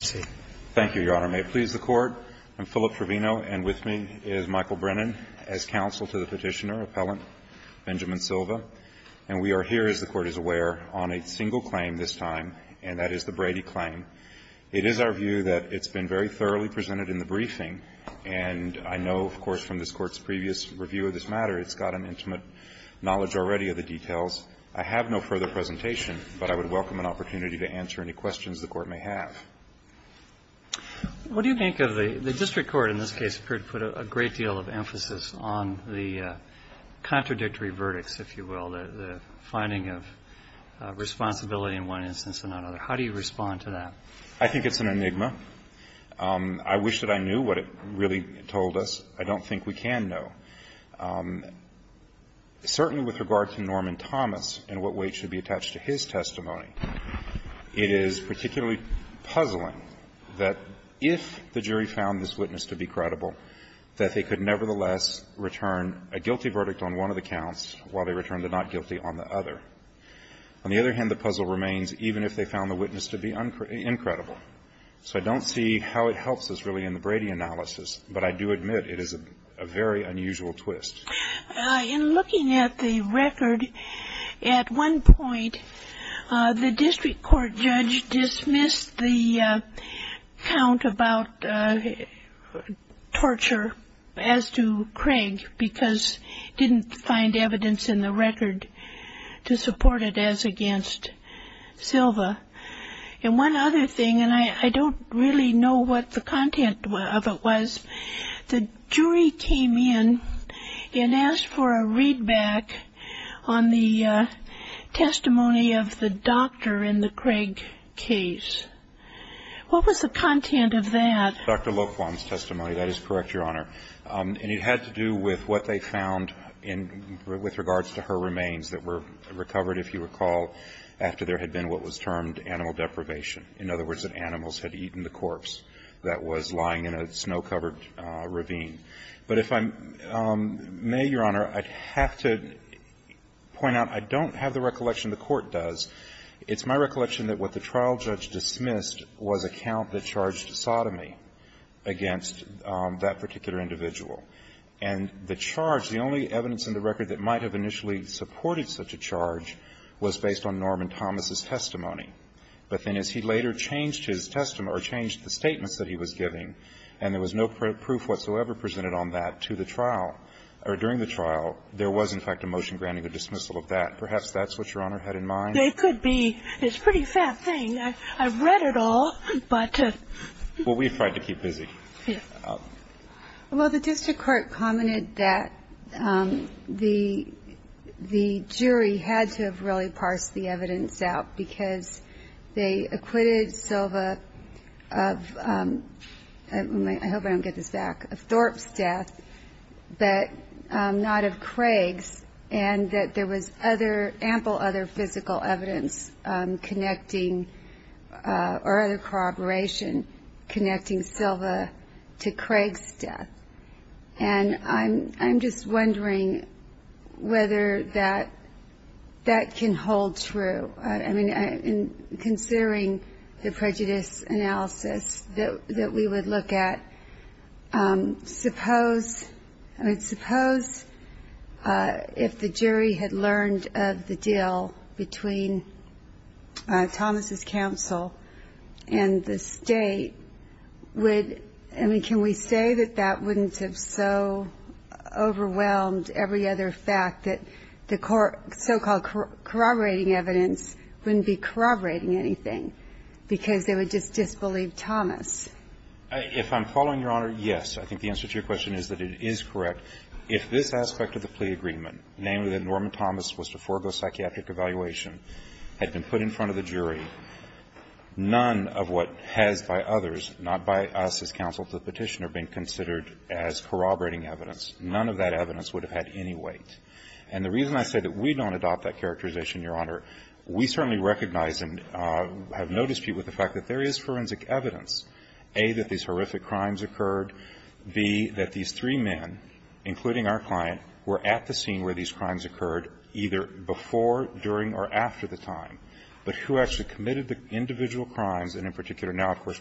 Thank you, Your Honor. May it please the Court, I'm Philip Trevino, and with me is Michael Brennan as counsel to the Petitioner, Appellant Benjamin Silva. And we are here, as the Court is aware, on a single claim this time, and that is the Brady claim. It is our view that it's been very thoroughly presented in the briefing, and I know, of course, from this Court's previous review of this matter, it's got an intimate knowledge already of the details. I have no further presentation, but I would welcome an opportunity to answer any questions the Court may have. Roberts, what do you think of the district court in this case put a great deal of emphasis on the contradictory verdicts, if you will, the finding of responsibility in one instance and not another. How do you respond to that? Brennan I think it's an enigma. I wish that I knew what it really told us. I don't think we can know. Certainly with regard to Norman Thomas and what weight should be attached to his testimony, it is particularly puzzling that if the jury found this witness to be credible, that they could nevertheless return a guilty verdict on one of the counts while they return the not guilty on the other. On the other hand, the puzzle remains even if they found the witness to be uncredible. So I don't see how it helps us really in the Brady analysis, but I do admit it is a very unusual twist. In looking at the record, at one point the district court judge dismissed the count about torture as to Craig because didn't find evidence in the record to support it as against Silva. And one other thing, and I don't really know what the content of it was, the jury came in and asked for a read back on the testimony of the doctor in the Craig case. What was the content of that? Dr. Laquan's testimony, that is correct, Your Honor. And it had to do with what they found with regards to her remains that were recovered, if you recall, after there had been what was termed animal deprivation. In other words, that animals had eaten the corpse that was lying in a snow covered ravine. But if I'm May, Your Honor, I'd have to point out I don't have the recollection the court does. It's my recollection that what the trial judge dismissed was a count that charged sodomy against that particular individual. And the charge, the only evidence in the record that might have initially supported such a charge was based on Norman Thomas's testimony. But then as he later changed his testimony or changed the statements that he was giving and there was no proof whatsoever presented on that to the trial or during the trial, there was, in fact, a motion granting a dismissal of that. Perhaps that's what Your Honor had in mind. They could be. It's a pretty fat thing. I've read it all, but. Well, we've tried to keep busy. Well, the district court commented that the jury had to have really parsed the evidence out because they acquitted Silva of, I hope I don't get this back, of Thorpe's death, but not of Craig's, and that there was other, ample other physical evidence connecting or other corroboration connecting Silva to Craig's death. And I'm just wondering whether that can hold true. I mean, considering the prejudice analysis that we would look at, suppose if the jury had learned of the deal between Thomas's counsel and the state, would, I mean, can we say that that wouldn't have so overwhelmed every other fact that the so-called corroborating evidence wouldn't be corroborating anything because they would just disbelieve Thomas? If I'm following Your Honor, yes. I think the answer to your question is that it is correct. If this aspect of the plea agreement, namely that Norman Thomas was to forego psychiatric evaluation, had been put in front of the jury, none of what has by others, not by us as counsel to the Petitioner, been considered as corroborating evidence, none of that evidence would have had any weight. And the reason I say that we don't adopt that characterization, Your Honor, we certainly recognize and have no dispute with the fact that there is forensic evidence, A, that these horrific crimes occurred, B, that these three men, including our client, were at the scene where these crimes occurred, either before, during, or after the time, were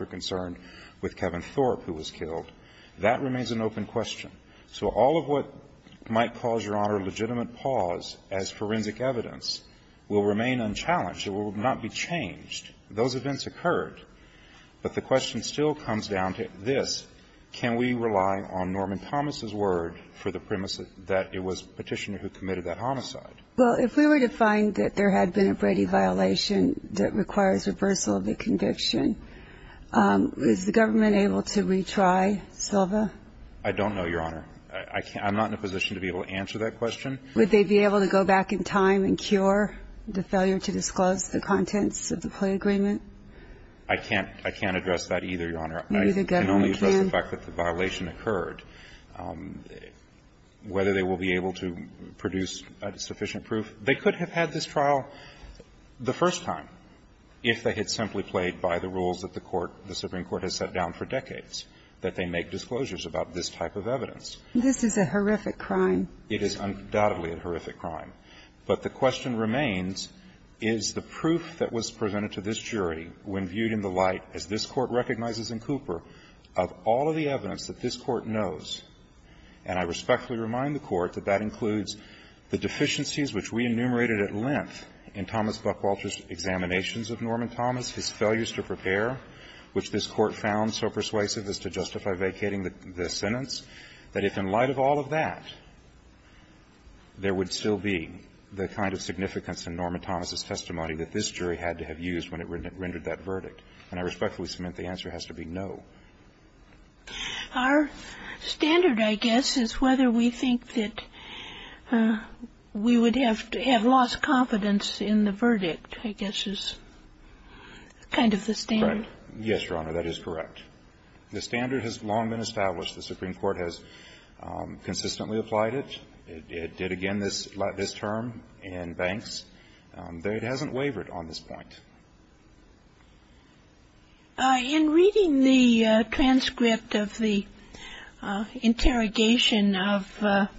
concerned with Kevin Thorpe, who was killed. That remains an open question. So all of what might cause, Your Honor, legitimate pause as forensic evidence will remain unchallenged. It will not be changed. Those events occurred. But the question still comes down to this. Can we rely on Norman Thomas' word for the premise that it was Petitioner who committed that homicide? Well, if we were to find that there had been a Brady violation that requires reversal of the conviction, is the government able to retry Silva? I don't know, Your Honor. I'm not in a position to be able to answer that question. Would they be able to go back in time and cure the failure to disclose the contents of the plea agreement? I can't address that either, Your Honor. Maybe the government can. I can only address the fact that the violation occurred. Whether they will be able to produce sufficient proof. They could have had this trial the first time if they had simply played by the rules that the court, the Supreme Court has set down for decades, that they make disclosures about this type of evidence. This is a horrific crime. It is undoubtedly a horrific crime. But the question remains, is the proof that was presented to this jury when viewed in the light, as this Court recognizes in Cooper, of all of the evidence that this Court knows, and I respectfully remind the Court that that includes the deficiencies which we enumerated at length in Thomas Buckwalter's examinations of Norman Thomas, his failures to prepare, which this Court found so persuasive as to justify vacating the sentence, that if in light of all of that, there would still be the kind of significance in Norman Thomas's testimony that this jury had to have used when it rendered that verdict. And I respectfully submit the answer has to be no. Our standard, I guess, is whether we think that we would have lost confidence in the verdict, I guess is kind of the standard. Yes, Your Honor, that is correct. The standard has long been established. The Supreme Court has consistently applied it. It did again this term in Banks. But it hasn't wavered on this point. In reading the transcript of the interrogation of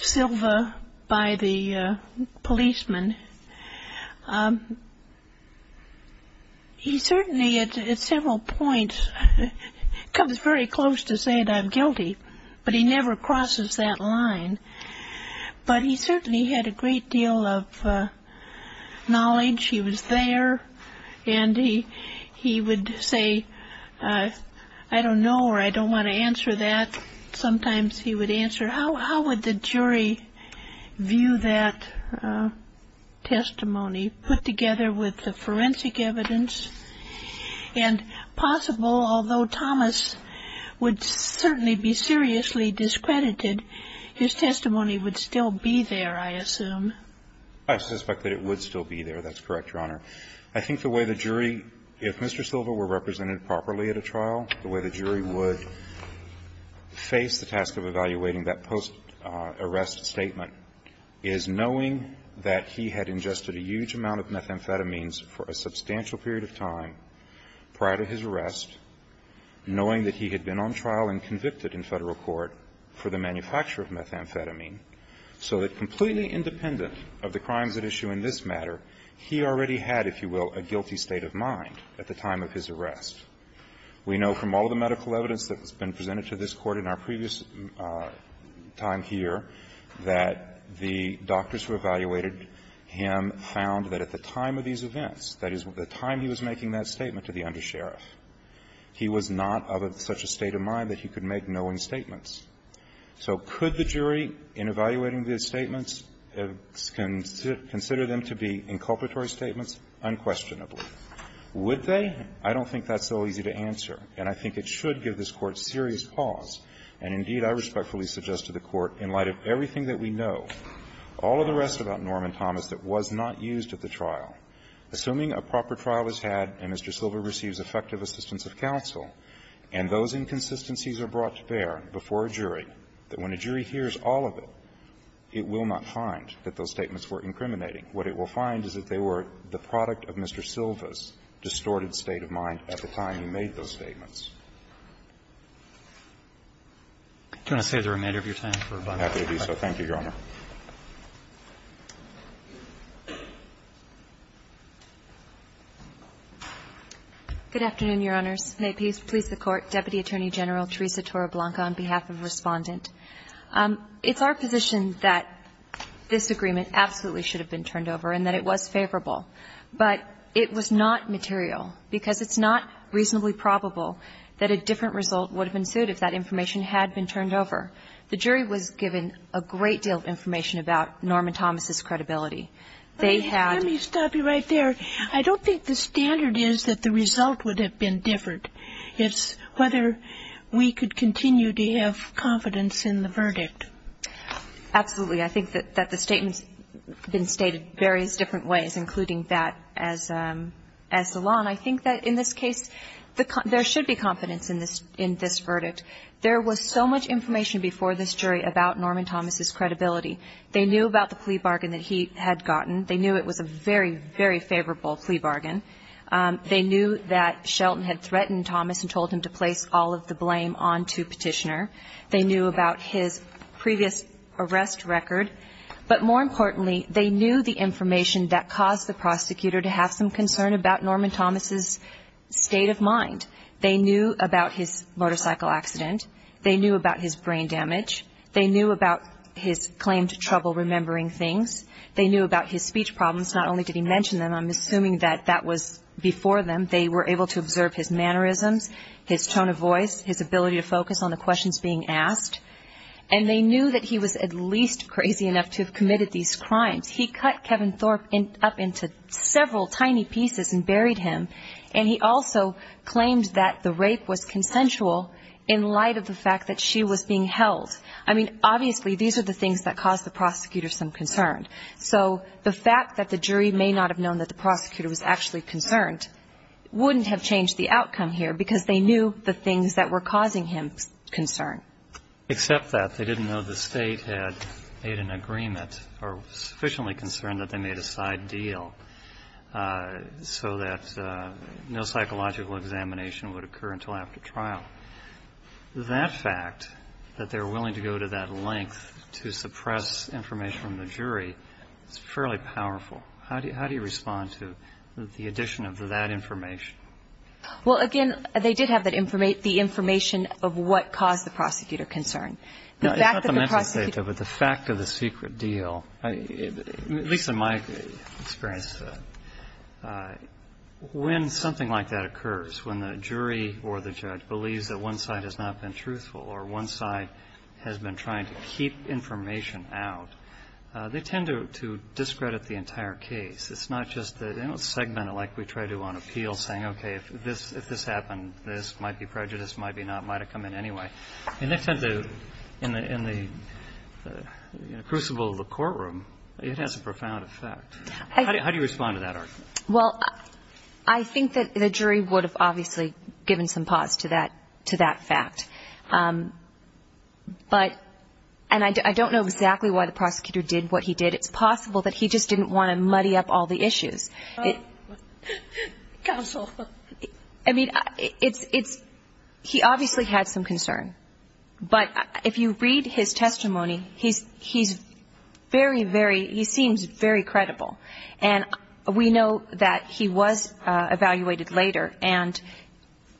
Silva by the policeman, he certainly at several points comes very close to saying I'm guilty, but he never crosses that line. But he certainly had a great deal of knowledge. He was there. And he would say, I don't know or I don't want to answer that. Sometimes he would answer, how would the jury view that testimony, put together with the forensic evidence? And possible, although Thomas would certainly be seriously discredited, his testimony would still be there, I assume. I suspect that it would still be there. That's correct, Your Honor. I think the way the jury, if Mr. Silva were represented properly at a trial, the way the jury would face the task of evaluating that post-arrest statement is knowing that he had ingested a huge amount of methamphetamines for a substantial period of time prior to his arrest, knowing that he had been on trial and convicted in Federal court for the manufacture of methamphetamine, so that completely independent of the crimes at issue in this matter, he already had, if you will, a guilty state of mind at the time of his arrest. We know from all the medical evidence that has been presented to this Court in our previous time here that the doctors who evaluated him found that at the time of these events, that is, the time he was making that statement to the undersheriff, he was not of such a state of mind that he could make knowing statements. So could the jury, in evaluating these statements, consider them to be inculpatory statements? Unquestionably. Would they? I don't think that's so easy to answer. And I think it should give this Court serious pause, and indeed, I respectfully suggest to the Court, in light of everything that we know, all of the rest about Norman Thomas that was not used at the trial, assuming a proper trial is had and Mr. Silva's state of mind is distorted, that when a jury hears all of it, it will not find that those statements were incriminating. What it will find is that they were the product of Mr. Silva's distorted state of mind at the time he made those statements. Roberts. Do you want to save the remainder of your time for a bunch of questions? I'm happy to do so. Thank you, Your Honor. Good afternoon, Your Honors. May peace please the Court. Deputy Attorney General Teresa Toroblanca on behalf of the Respondent. It's our position that this agreement absolutely should have been turned over and that it was favorable. But it was not material, because it's not reasonably probable that a different result would have been sued if that information had been turned over. The jury was given a great deal of information about Norman Thomas's credibility. They had Let me stop you right there. I don't think the standard is that the result would have been different. It's whether we could continue to have confidence in the verdict. Absolutely. I think that the statements have been stated various different ways, including that as the law. And I think that in this case, there should be confidence in this verdict. There was so much information before this jury about Norman Thomas's credibility. They knew about the plea bargain that he had gotten. They knew it was a very, very favorable plea bargain. They knew that Shelton had threatened Thomas and told him to place all of the blame on to Petitioner. They knew about his previous arrest record. But more importantly, they knew the information that caused the prosecutor to have some concern about Norman Thomas's state of mind. They knew about his motorcycle accident. They knew about his brain damage. They knew about his claim to trouble remembering things. They knew about his speech problems. Not only did he mention them, I'm assuming that that was before them. They were able to observe his mannerisms, his tone of voice, his ability to focus on the questions being asked. And they knew that he was at least crazy enough to have committed these crimes. He cut Kevin Thorpe up into several tiny pieces and buried him. And he also claimed that the rape was consensual in light of the fact that she was being held. I mean, obviously, these are the things that caused the prosecutor some concern. So the fact that the jury may not have known that the prosecutor was actually concerned wouldn't have changed the outcome here because they knew the things that were causing him concern. Except that they didn't know the State had made an agreement or sufficiently concerned that they made a side deal so that no psychological examination would occur until after trial. That fact, that they were willing to go to that length to suppress information from the jury, is fairly powerful. How do you respond to the addition of that information? Well, again, they did have the information of what caused the prosecutor concern. It's not the mental state, though, but the fact of the secret deal, at least in my experience, when something like that occurs, when the jury or the judge believes that one side has not been truthful or one side has been trying to keep information out, they tend to discredit the entire case. It's not just the segment, like we try to on appeal, saying, okay, if this happened, this might be prejudice, might be not, might have come in anyway. In the crucible of the courtroom, it has a profound effect. How do you respond to that argument? Well, I think that the jury would have obviously given some pause to that fact. But, and I don't know exactly why the prosecutor did what he did. It's possible that he just didn't want to muddy up all the issues. Counsel. I mean, it's, he obviously had some concern. But if you read his testimony, he's very, very, he seems very credible. And we know that he was evaluated later and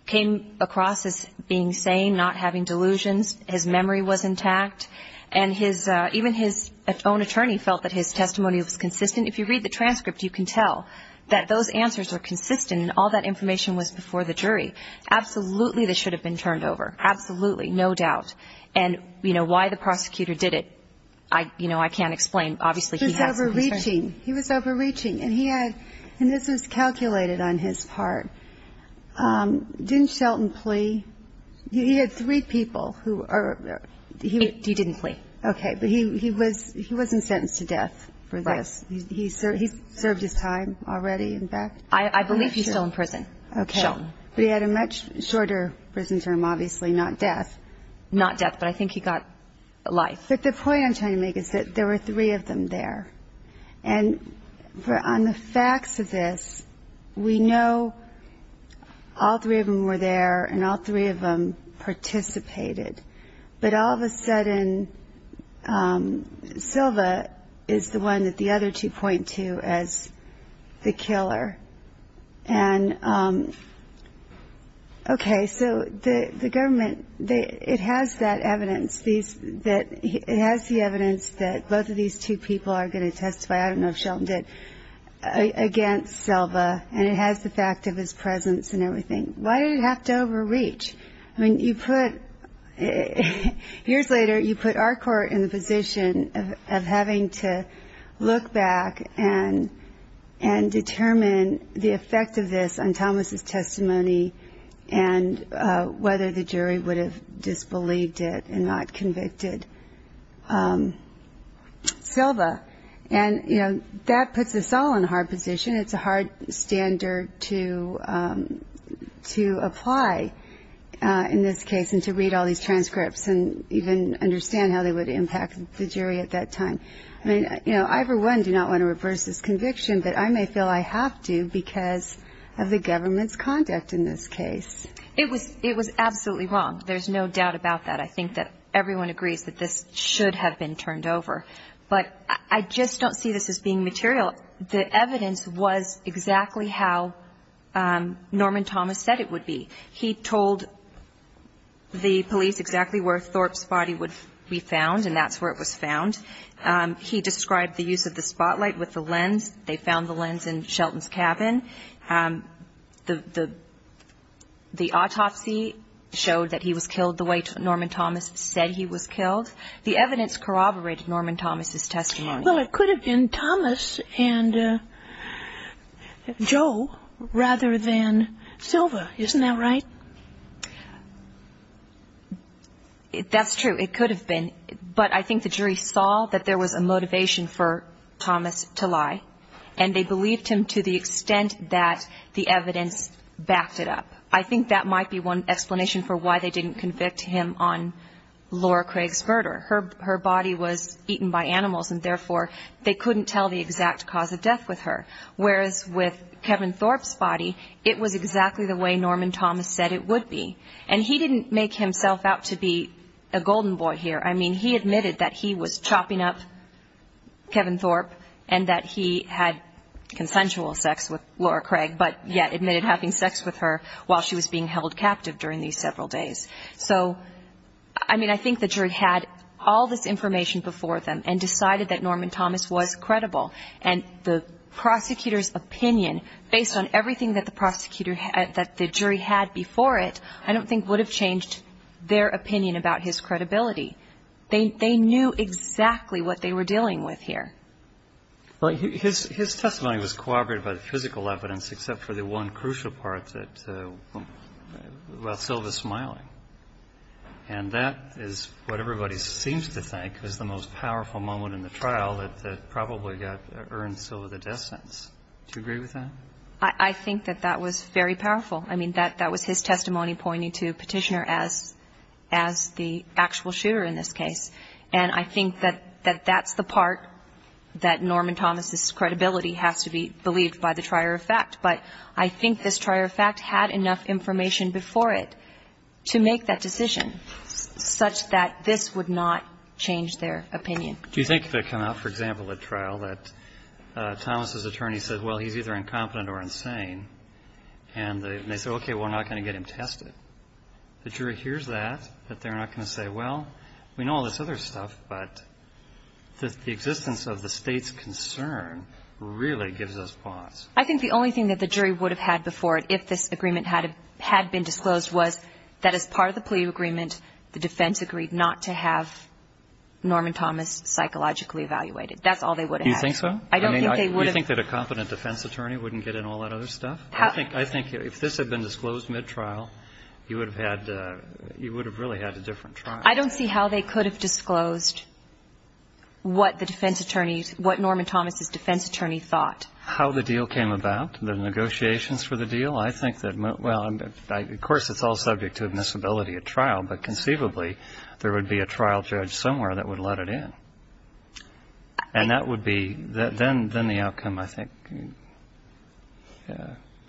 came across as being sane, not having delusions. His memory was intact. And his, even his own attorney felt that his testimony was consistent. If you read the transcript, you can tell that those answers were consistent and all that information was before the jury. Absolutely, this should have been turned over. Absolutely, no doubt. And, you know, why the prosecutor did it, you know, I can't explain. He was overreaching. He was overreaching. And he had, and this was calculated on his part. Didn't Shelton plea? He had three people who are. He didn't plea. Okay. But he was, he wasn't sentenced to death for this. He served his time already. In fact. I believe he's still in prison. Okay. But he had a much shorter prison term, obviously, not death. Not death, but I think he got life. But the point I'm trying to make is that there were three of them there. And on the facts of this, we know all three of them were there. And all three of them participated. But all of a sudden, Silva is the one that the other two point to as the killer. And, okay, so the government, it has that evidence. It has the evidence that both of these two people are going to testify, I don't know if Shelton did, against Silva. And it has the fact of his presence and everything. Why did it have to overreach? I mean, you put, years later, you put our court in the position of having to look back and determine the effect of this on Thomas's testimony. And whether the jury would have disbelieved it and not convicted Silva. And, you know, that puts us all in a hard position. It's a hard standard to apply in this case and to read all these transcripts and even understand how they would impact the jury at that time. I mean, you know, I for one do not want to reverse this conviction. But I may feel I have to because of the government's conduct in this case. It was absolutely wrong. There's no doubt about that. I think that everyone agrees that this should have been turned over. But I just don't see this as being material. The evidence was exactly how Norman Thomas said it would be. He told the police exactly where Thorpe's body would be found. And that's where it was found. He described the use of the spotlight with the lens. They found the lens in Shelton's cabin. The autopsy showed that he was killed the way Norman Thomas said he was killed. The evidence corroborated Norman Thomas's testimony. Well, it could have been Thomas and Joe rather than Silva. Isn't that right? That's true. It could have been. But I think the jury saw that there was a motivation for Thomas to lie. And they believed him to the extent that the evidence backed it up. I think that might be one explanation for why they didn't convict him on Laura Craig's murder. Her body was eaten by animals. And therefore, they couldn't tell the exact cause of death with her. Whereas with Kevin Thorpe's body, it was exactly the way Norman Thomas said it would be. And he didn't make himself out to be a golden boy here. I mean, he admitted that he was chopping up Kevin Thorpe. And that he had consensual sex with Laura Craig. But yet admitted having sex with her while she was being held captive during these several days. So, I mean, I think the jury had all this information before them. And decided that Norman Thomas was credible. And the prosecutor's opinion, based on everything that the jury had before it, I don't think would have changed their opinion about his credibility. They knew exactly what they were dealing with here. Well, his testimony was corroborated by the physical evidence, except for the one crucial part that, well, Silva's smiling. And that is what everybody seems to think is the most powerful moment in the trial that probably got Ernst Silva the death sentence. Do you agree with that? I think that that was very powerful. I mean, that was his testimony pointing to Petitioner as the actual shooter in this case. And I think that that's the part that Norman Thomas's credibility has to be believed by the trier of fact. But I think this trier of fact had enough information before it to make that decision such that this would not change their opinion. Do you think if it came out, for example, at trial, that Thomas's attorney said, well, he's either incompetent or insane, and they said, okay, we're not going to get him tested. The jury hears that, that they're not going to say, well, we know all this other stuff, but the existence of the State's concern really gives us pause. I think the only thing that the jury would have had before it had been disclosed was that as part of the plea agreement, the defense agreed not to have Norman Thomas psychologically evaluated. That's all they would have had. Do you think so? Do you think that a competent defense attorney wouldn't get in all that other stuff? I think if this had been disclosed mid-trial, you would have really had a different trial. I don't see how they could have disclosed what the defense attorney, what Norman Thomas's defense attorney thought. How the deal came about, the negotiations for the deal, I think that, well, of course, it's all subject to admissibility at trial, but conceivably, there would be a trial judge somewhere that would let it in. And that would be, then the outcome, I think,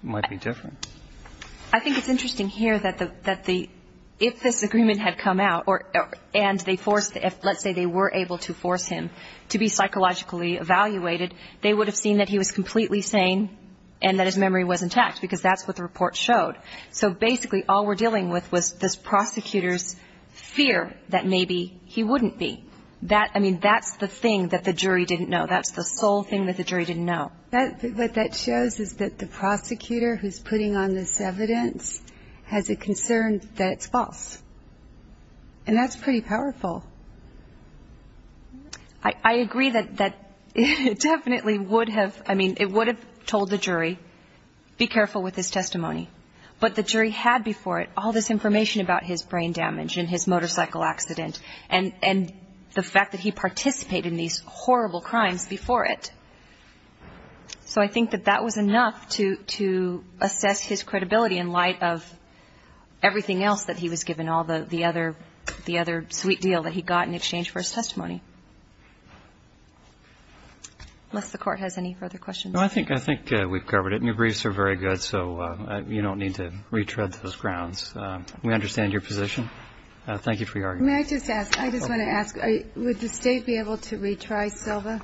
might be different. I think it's interesting here that the, if this agreement had come out, and they forced, let's say they were able to force him to be psychologically evaluated, they would have seen that he was completely sane and that his memory was intact because that's what the report showed. So basically, all we're dealing with was this prosecutor's fear that maybe he wouldn't be. That, I mean, that's the thing that the jury didn't know. That's the sole thing that the jury didn't know. What that shows is that the prosecutor who's putting on this evidence has a concern that it's false. And that's pretty powerful. I agree that it definitely would have, I mean, it would have told the jury, be careful with this testimony. But the jury had before it all this information about his brain damage and his motorcycle accident and the fact that he participated in these horrible crimes before it. So I think that that was enough to assess his credibility in light of everything else that he was given, and all the other sweet deal that he got in exchange for his testimony. Unless the Court has any further questions. No, I think we've covered it. And your briefs are very good, so you don't need to retread those grounds. We understand your position. Thank you for your argument. May I just ask? I just want to ask. Would the State be able to retry Silva?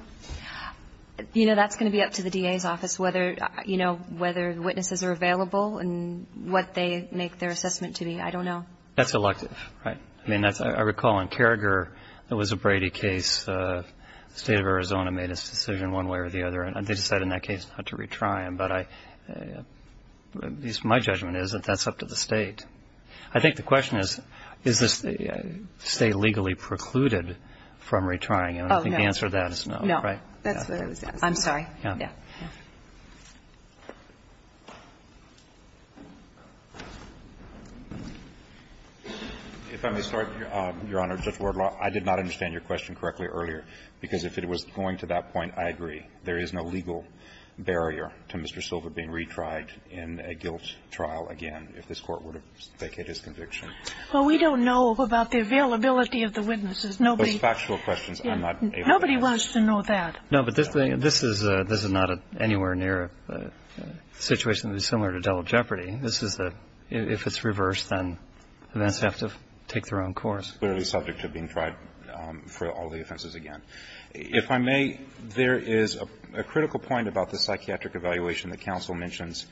You know, that's going to be up to the DA's office, whether witnesses are available and what they make their assessment to be. I don't know. That's elective. Right. I mean, I recall in Carragher, there was a Brady case. The State of Arizona made its decision one way or the other, and they decided in that case not to retry him. But my judgment is that that's up to the State. I think the question is, is the State legally precluded from retrying him? I think the answer to that is no. No. That's what I was asking. I'm sorry. Yeah. If I may start, Your Honor. Judge Wardlaw, I did not understand your question correctly earlier, because if it was going to that point, I agree. There is no legal barrier to Mr. Silva being retried in a guilt trial again, if this Court would have vacated his conviction. Well, we don't know about the availability of the witnesses. Those factual questions, I'm not able to answer. Nobody wants to know that. No, but this is not anywhere near a situation that is similar to Delaware Jeopardy. This is a – if it's reversed, then the defense would have to take their own course. Clearly subject to being tried for all the offenses again. If I may, there is a critical point about the psychiatric evaluation that counsel mentions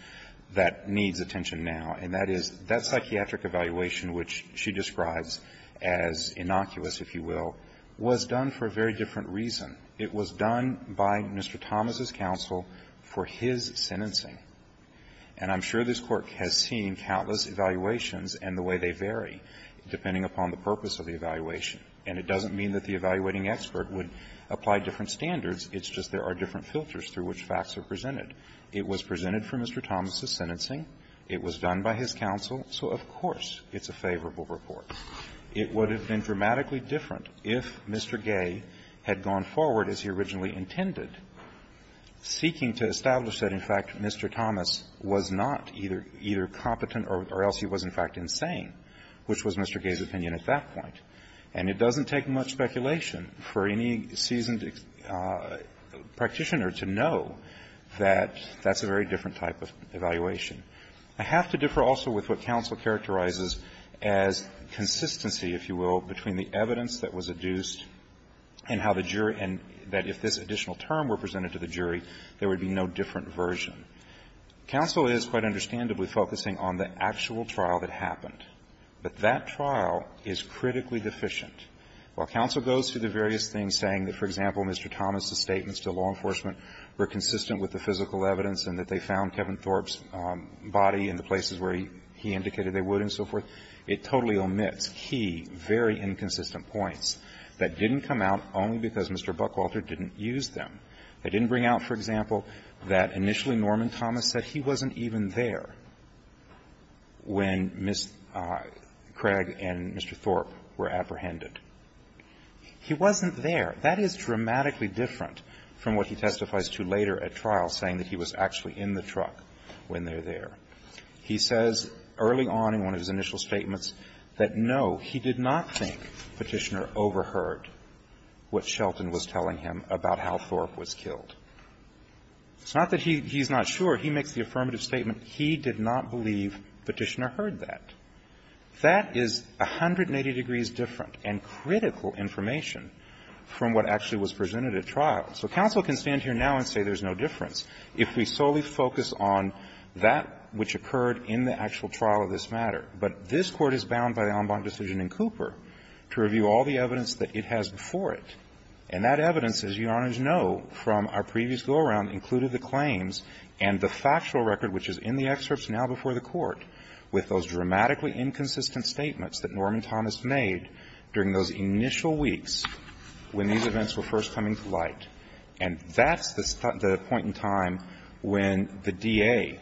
that needs attention now, and that is that psychiatric evaluation, which she describes as innocuous, if you will, was done for a very different reason. It was done by Mr. Thomas' counsel for his sentencing. And I'm sure this Court has seen countless evaluations and the way they vary, depending upon the purpose of the evaluation. And it doesn't mean that the evaluating expert would apply different standards. It's just there are different filters through which facts are presented. It was presented for Mr. Thomas' sentencing. It was done by his counsel. So, of course, it's a favorable report. It would have been dramatically different if Mr. Gay had gone forward as he originally intended, seeking to establish that, in fact, Mr. Thomas was not either competent or else he was, in fact, insane, which was Mr. Gay's opinion at that point. And it doesn't take much speculation for any seasoned practitioner to know that that's a very different type of evaluation. I have to differ also with what counsel characterizes as consistency, if you will, between the evidence that was adduced and how the jury and that if this additional term were presented to the jury, there would be no different version. Counsel is quite understandably focusing on the actual trial that happened. But that trial is critically deficient. While counsel goes through the various things saying that, for example, Mr. Thomas' statements to law enforcement were consistent with the physical evidence and that they found Kevin Thorpe's body in the places where he indicated they would and so forth, it totally omits key, very inconsistent points that didn't come out only because Mr. Buckwalter didn't use them. It didn't bring out, for example, that initially Norman Thomas said he wasn't even there when Ms. Craig and Mr. Thorpe were apprehended. He wasn't there. That is dramatically different from what he testifies to later at trial saying that he was actually in the truck when they're there. He says early on in one of his initial statements that, no, he did not think Petitioner overheard what Shelton was telling him about how Thorpe was killed. It's not that he's not sure. He makes the affirmative statement. He did not believe Petitioner heard that. That is 180 degrees different and critical information from what actually was presented at trial. So counsel can stand here now and say there's no difference. If we solely focus on that which occurred in the actual trial of this matter. But this Court is bound by the Alambank decision in Cooper to review all the evidence that it has before it. And that evidence, as Your Honors know from our previous go-around, included the claims and the factual record which is in the excerpts now before the Court with those dramatically inconsistent statements that Norman Thomas made during those initial weeks when these events were first coming to light. And that's the point in time when the DA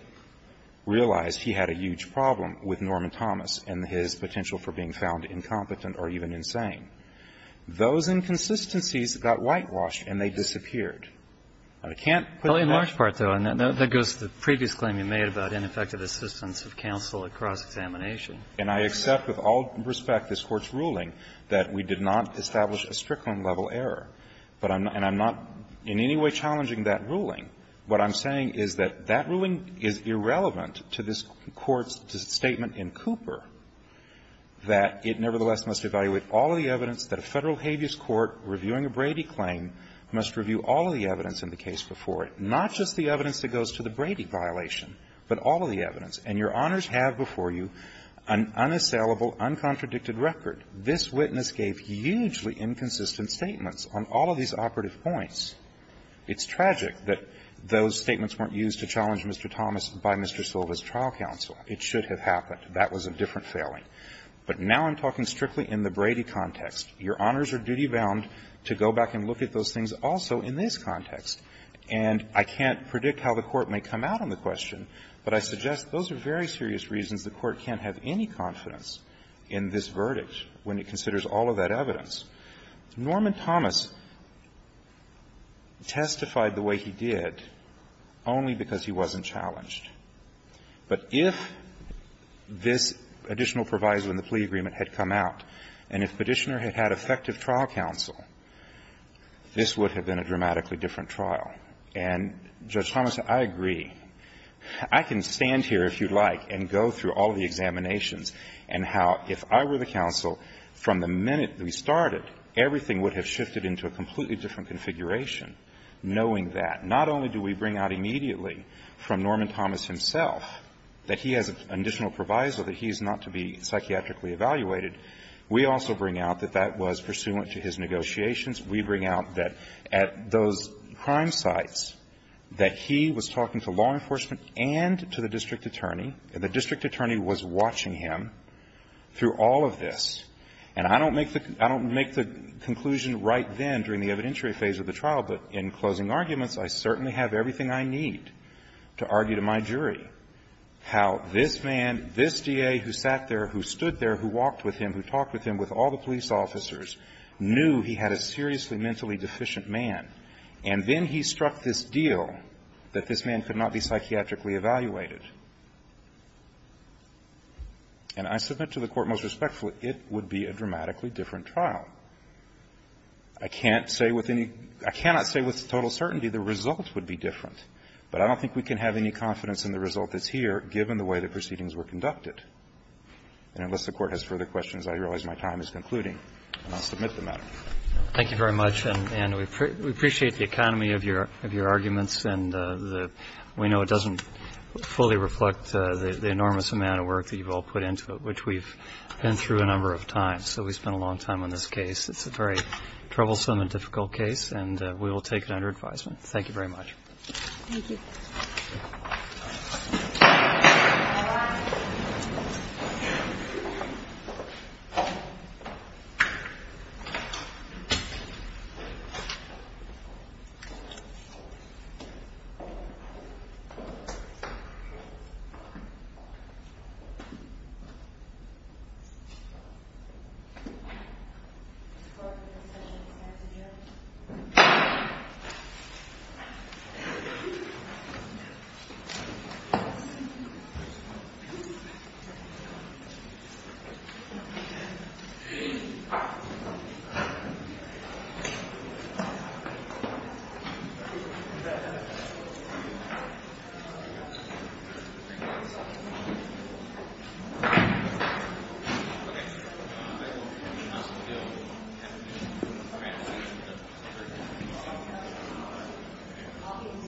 realized he had a huge problem with Norman Thomas and his potential for being found incompetent or even insane. Those inconsistencies got whitewashed and they disappeared. And I can't put that. Well, in large part, though, that goes to the previous claim you made about ineffective assistance of counsel at cross-examination. And I accept with all respect this Court's ruling that we did not establish a Strickland level error. And I'm not in any way challenging that ruling. What I'm saying is that that ruling is irrelevant to this Court's statement in Cooper that it nevertheless must evaluate all of the evidence that a Federal habeas court reviewing a Brady claim must review all of the evidence in the case before it, not just the evidence that goes to the Brady violation, but all of the evidence. And Your Honors have before you an unassailable, uncontradicted record. This witness gave hugely inconsistent statements on all of these operative points. It's tragic that those statements weren't used to challenge Mr. Thomas by Mr. Silva's trial counsel. It should have happened. That was a different failing. But now I'm talking strictly in the Brady context. Your Honors are duty-bound to go back and look at those things also in this context. And I can't predict how the Court may come out on the question, but I suggest those are very serious reasons the Court can't have any confidence in this verdict when it considers all of that evidence. Norman Thomas testified the way he did only because he wasn't challenged. But if this additional proviso in the plea agreement had come out, and if Petitioner had had effective trial counsel, this would have been a dramatically different trial. And, Judge Thomas, I agree. I can stand here, if you like, and go through all of the examinations and how, if I were the counsel, from the minute we started, everything would have shifted into a completely different configuration, knowing that. Not only do we bring out immediately from Norman Thomas himself that he has an additional proviso, that he is not to be psychiatrically evaluated, we also bring out that that was pursuant to his negotiations. We bring out that at those crime sites, that he was talking to law enforcement and to the district attorney, and the district attorney was watching him through all of this. And I don't make the conclusion right then during the evidentiary phase of the trial, but in closing arguments, I certainly have everything I need to argue to my jury how this man, this DA who sat there, who stood there, who walked with him, who talked with him, with all the police officers, knew he had a seriously mentally deficient man, and then he struck this deal that this man could not be psychiatrically evaluated. And I submit to the Court most respectfully, it would be a dramatically different trial. I can't say with any – I cannot say with total certainty the result would be different, but I don't think we can have any confidence in the result that's here, given the way the proceedings were conducted. But unless the Court has further questions, I realize my time is concluding, and I'll submit the matter. Thank you very much. And we appreciate the economy of your arguments, and we know it doesn't fully reflect the enormous amount of work that you've all put into it, which we've been through a number of times. So we spent a long time on this case. It's a very troublesome and difficult case, and we will take it under advisement. Thank you very much. Thank you.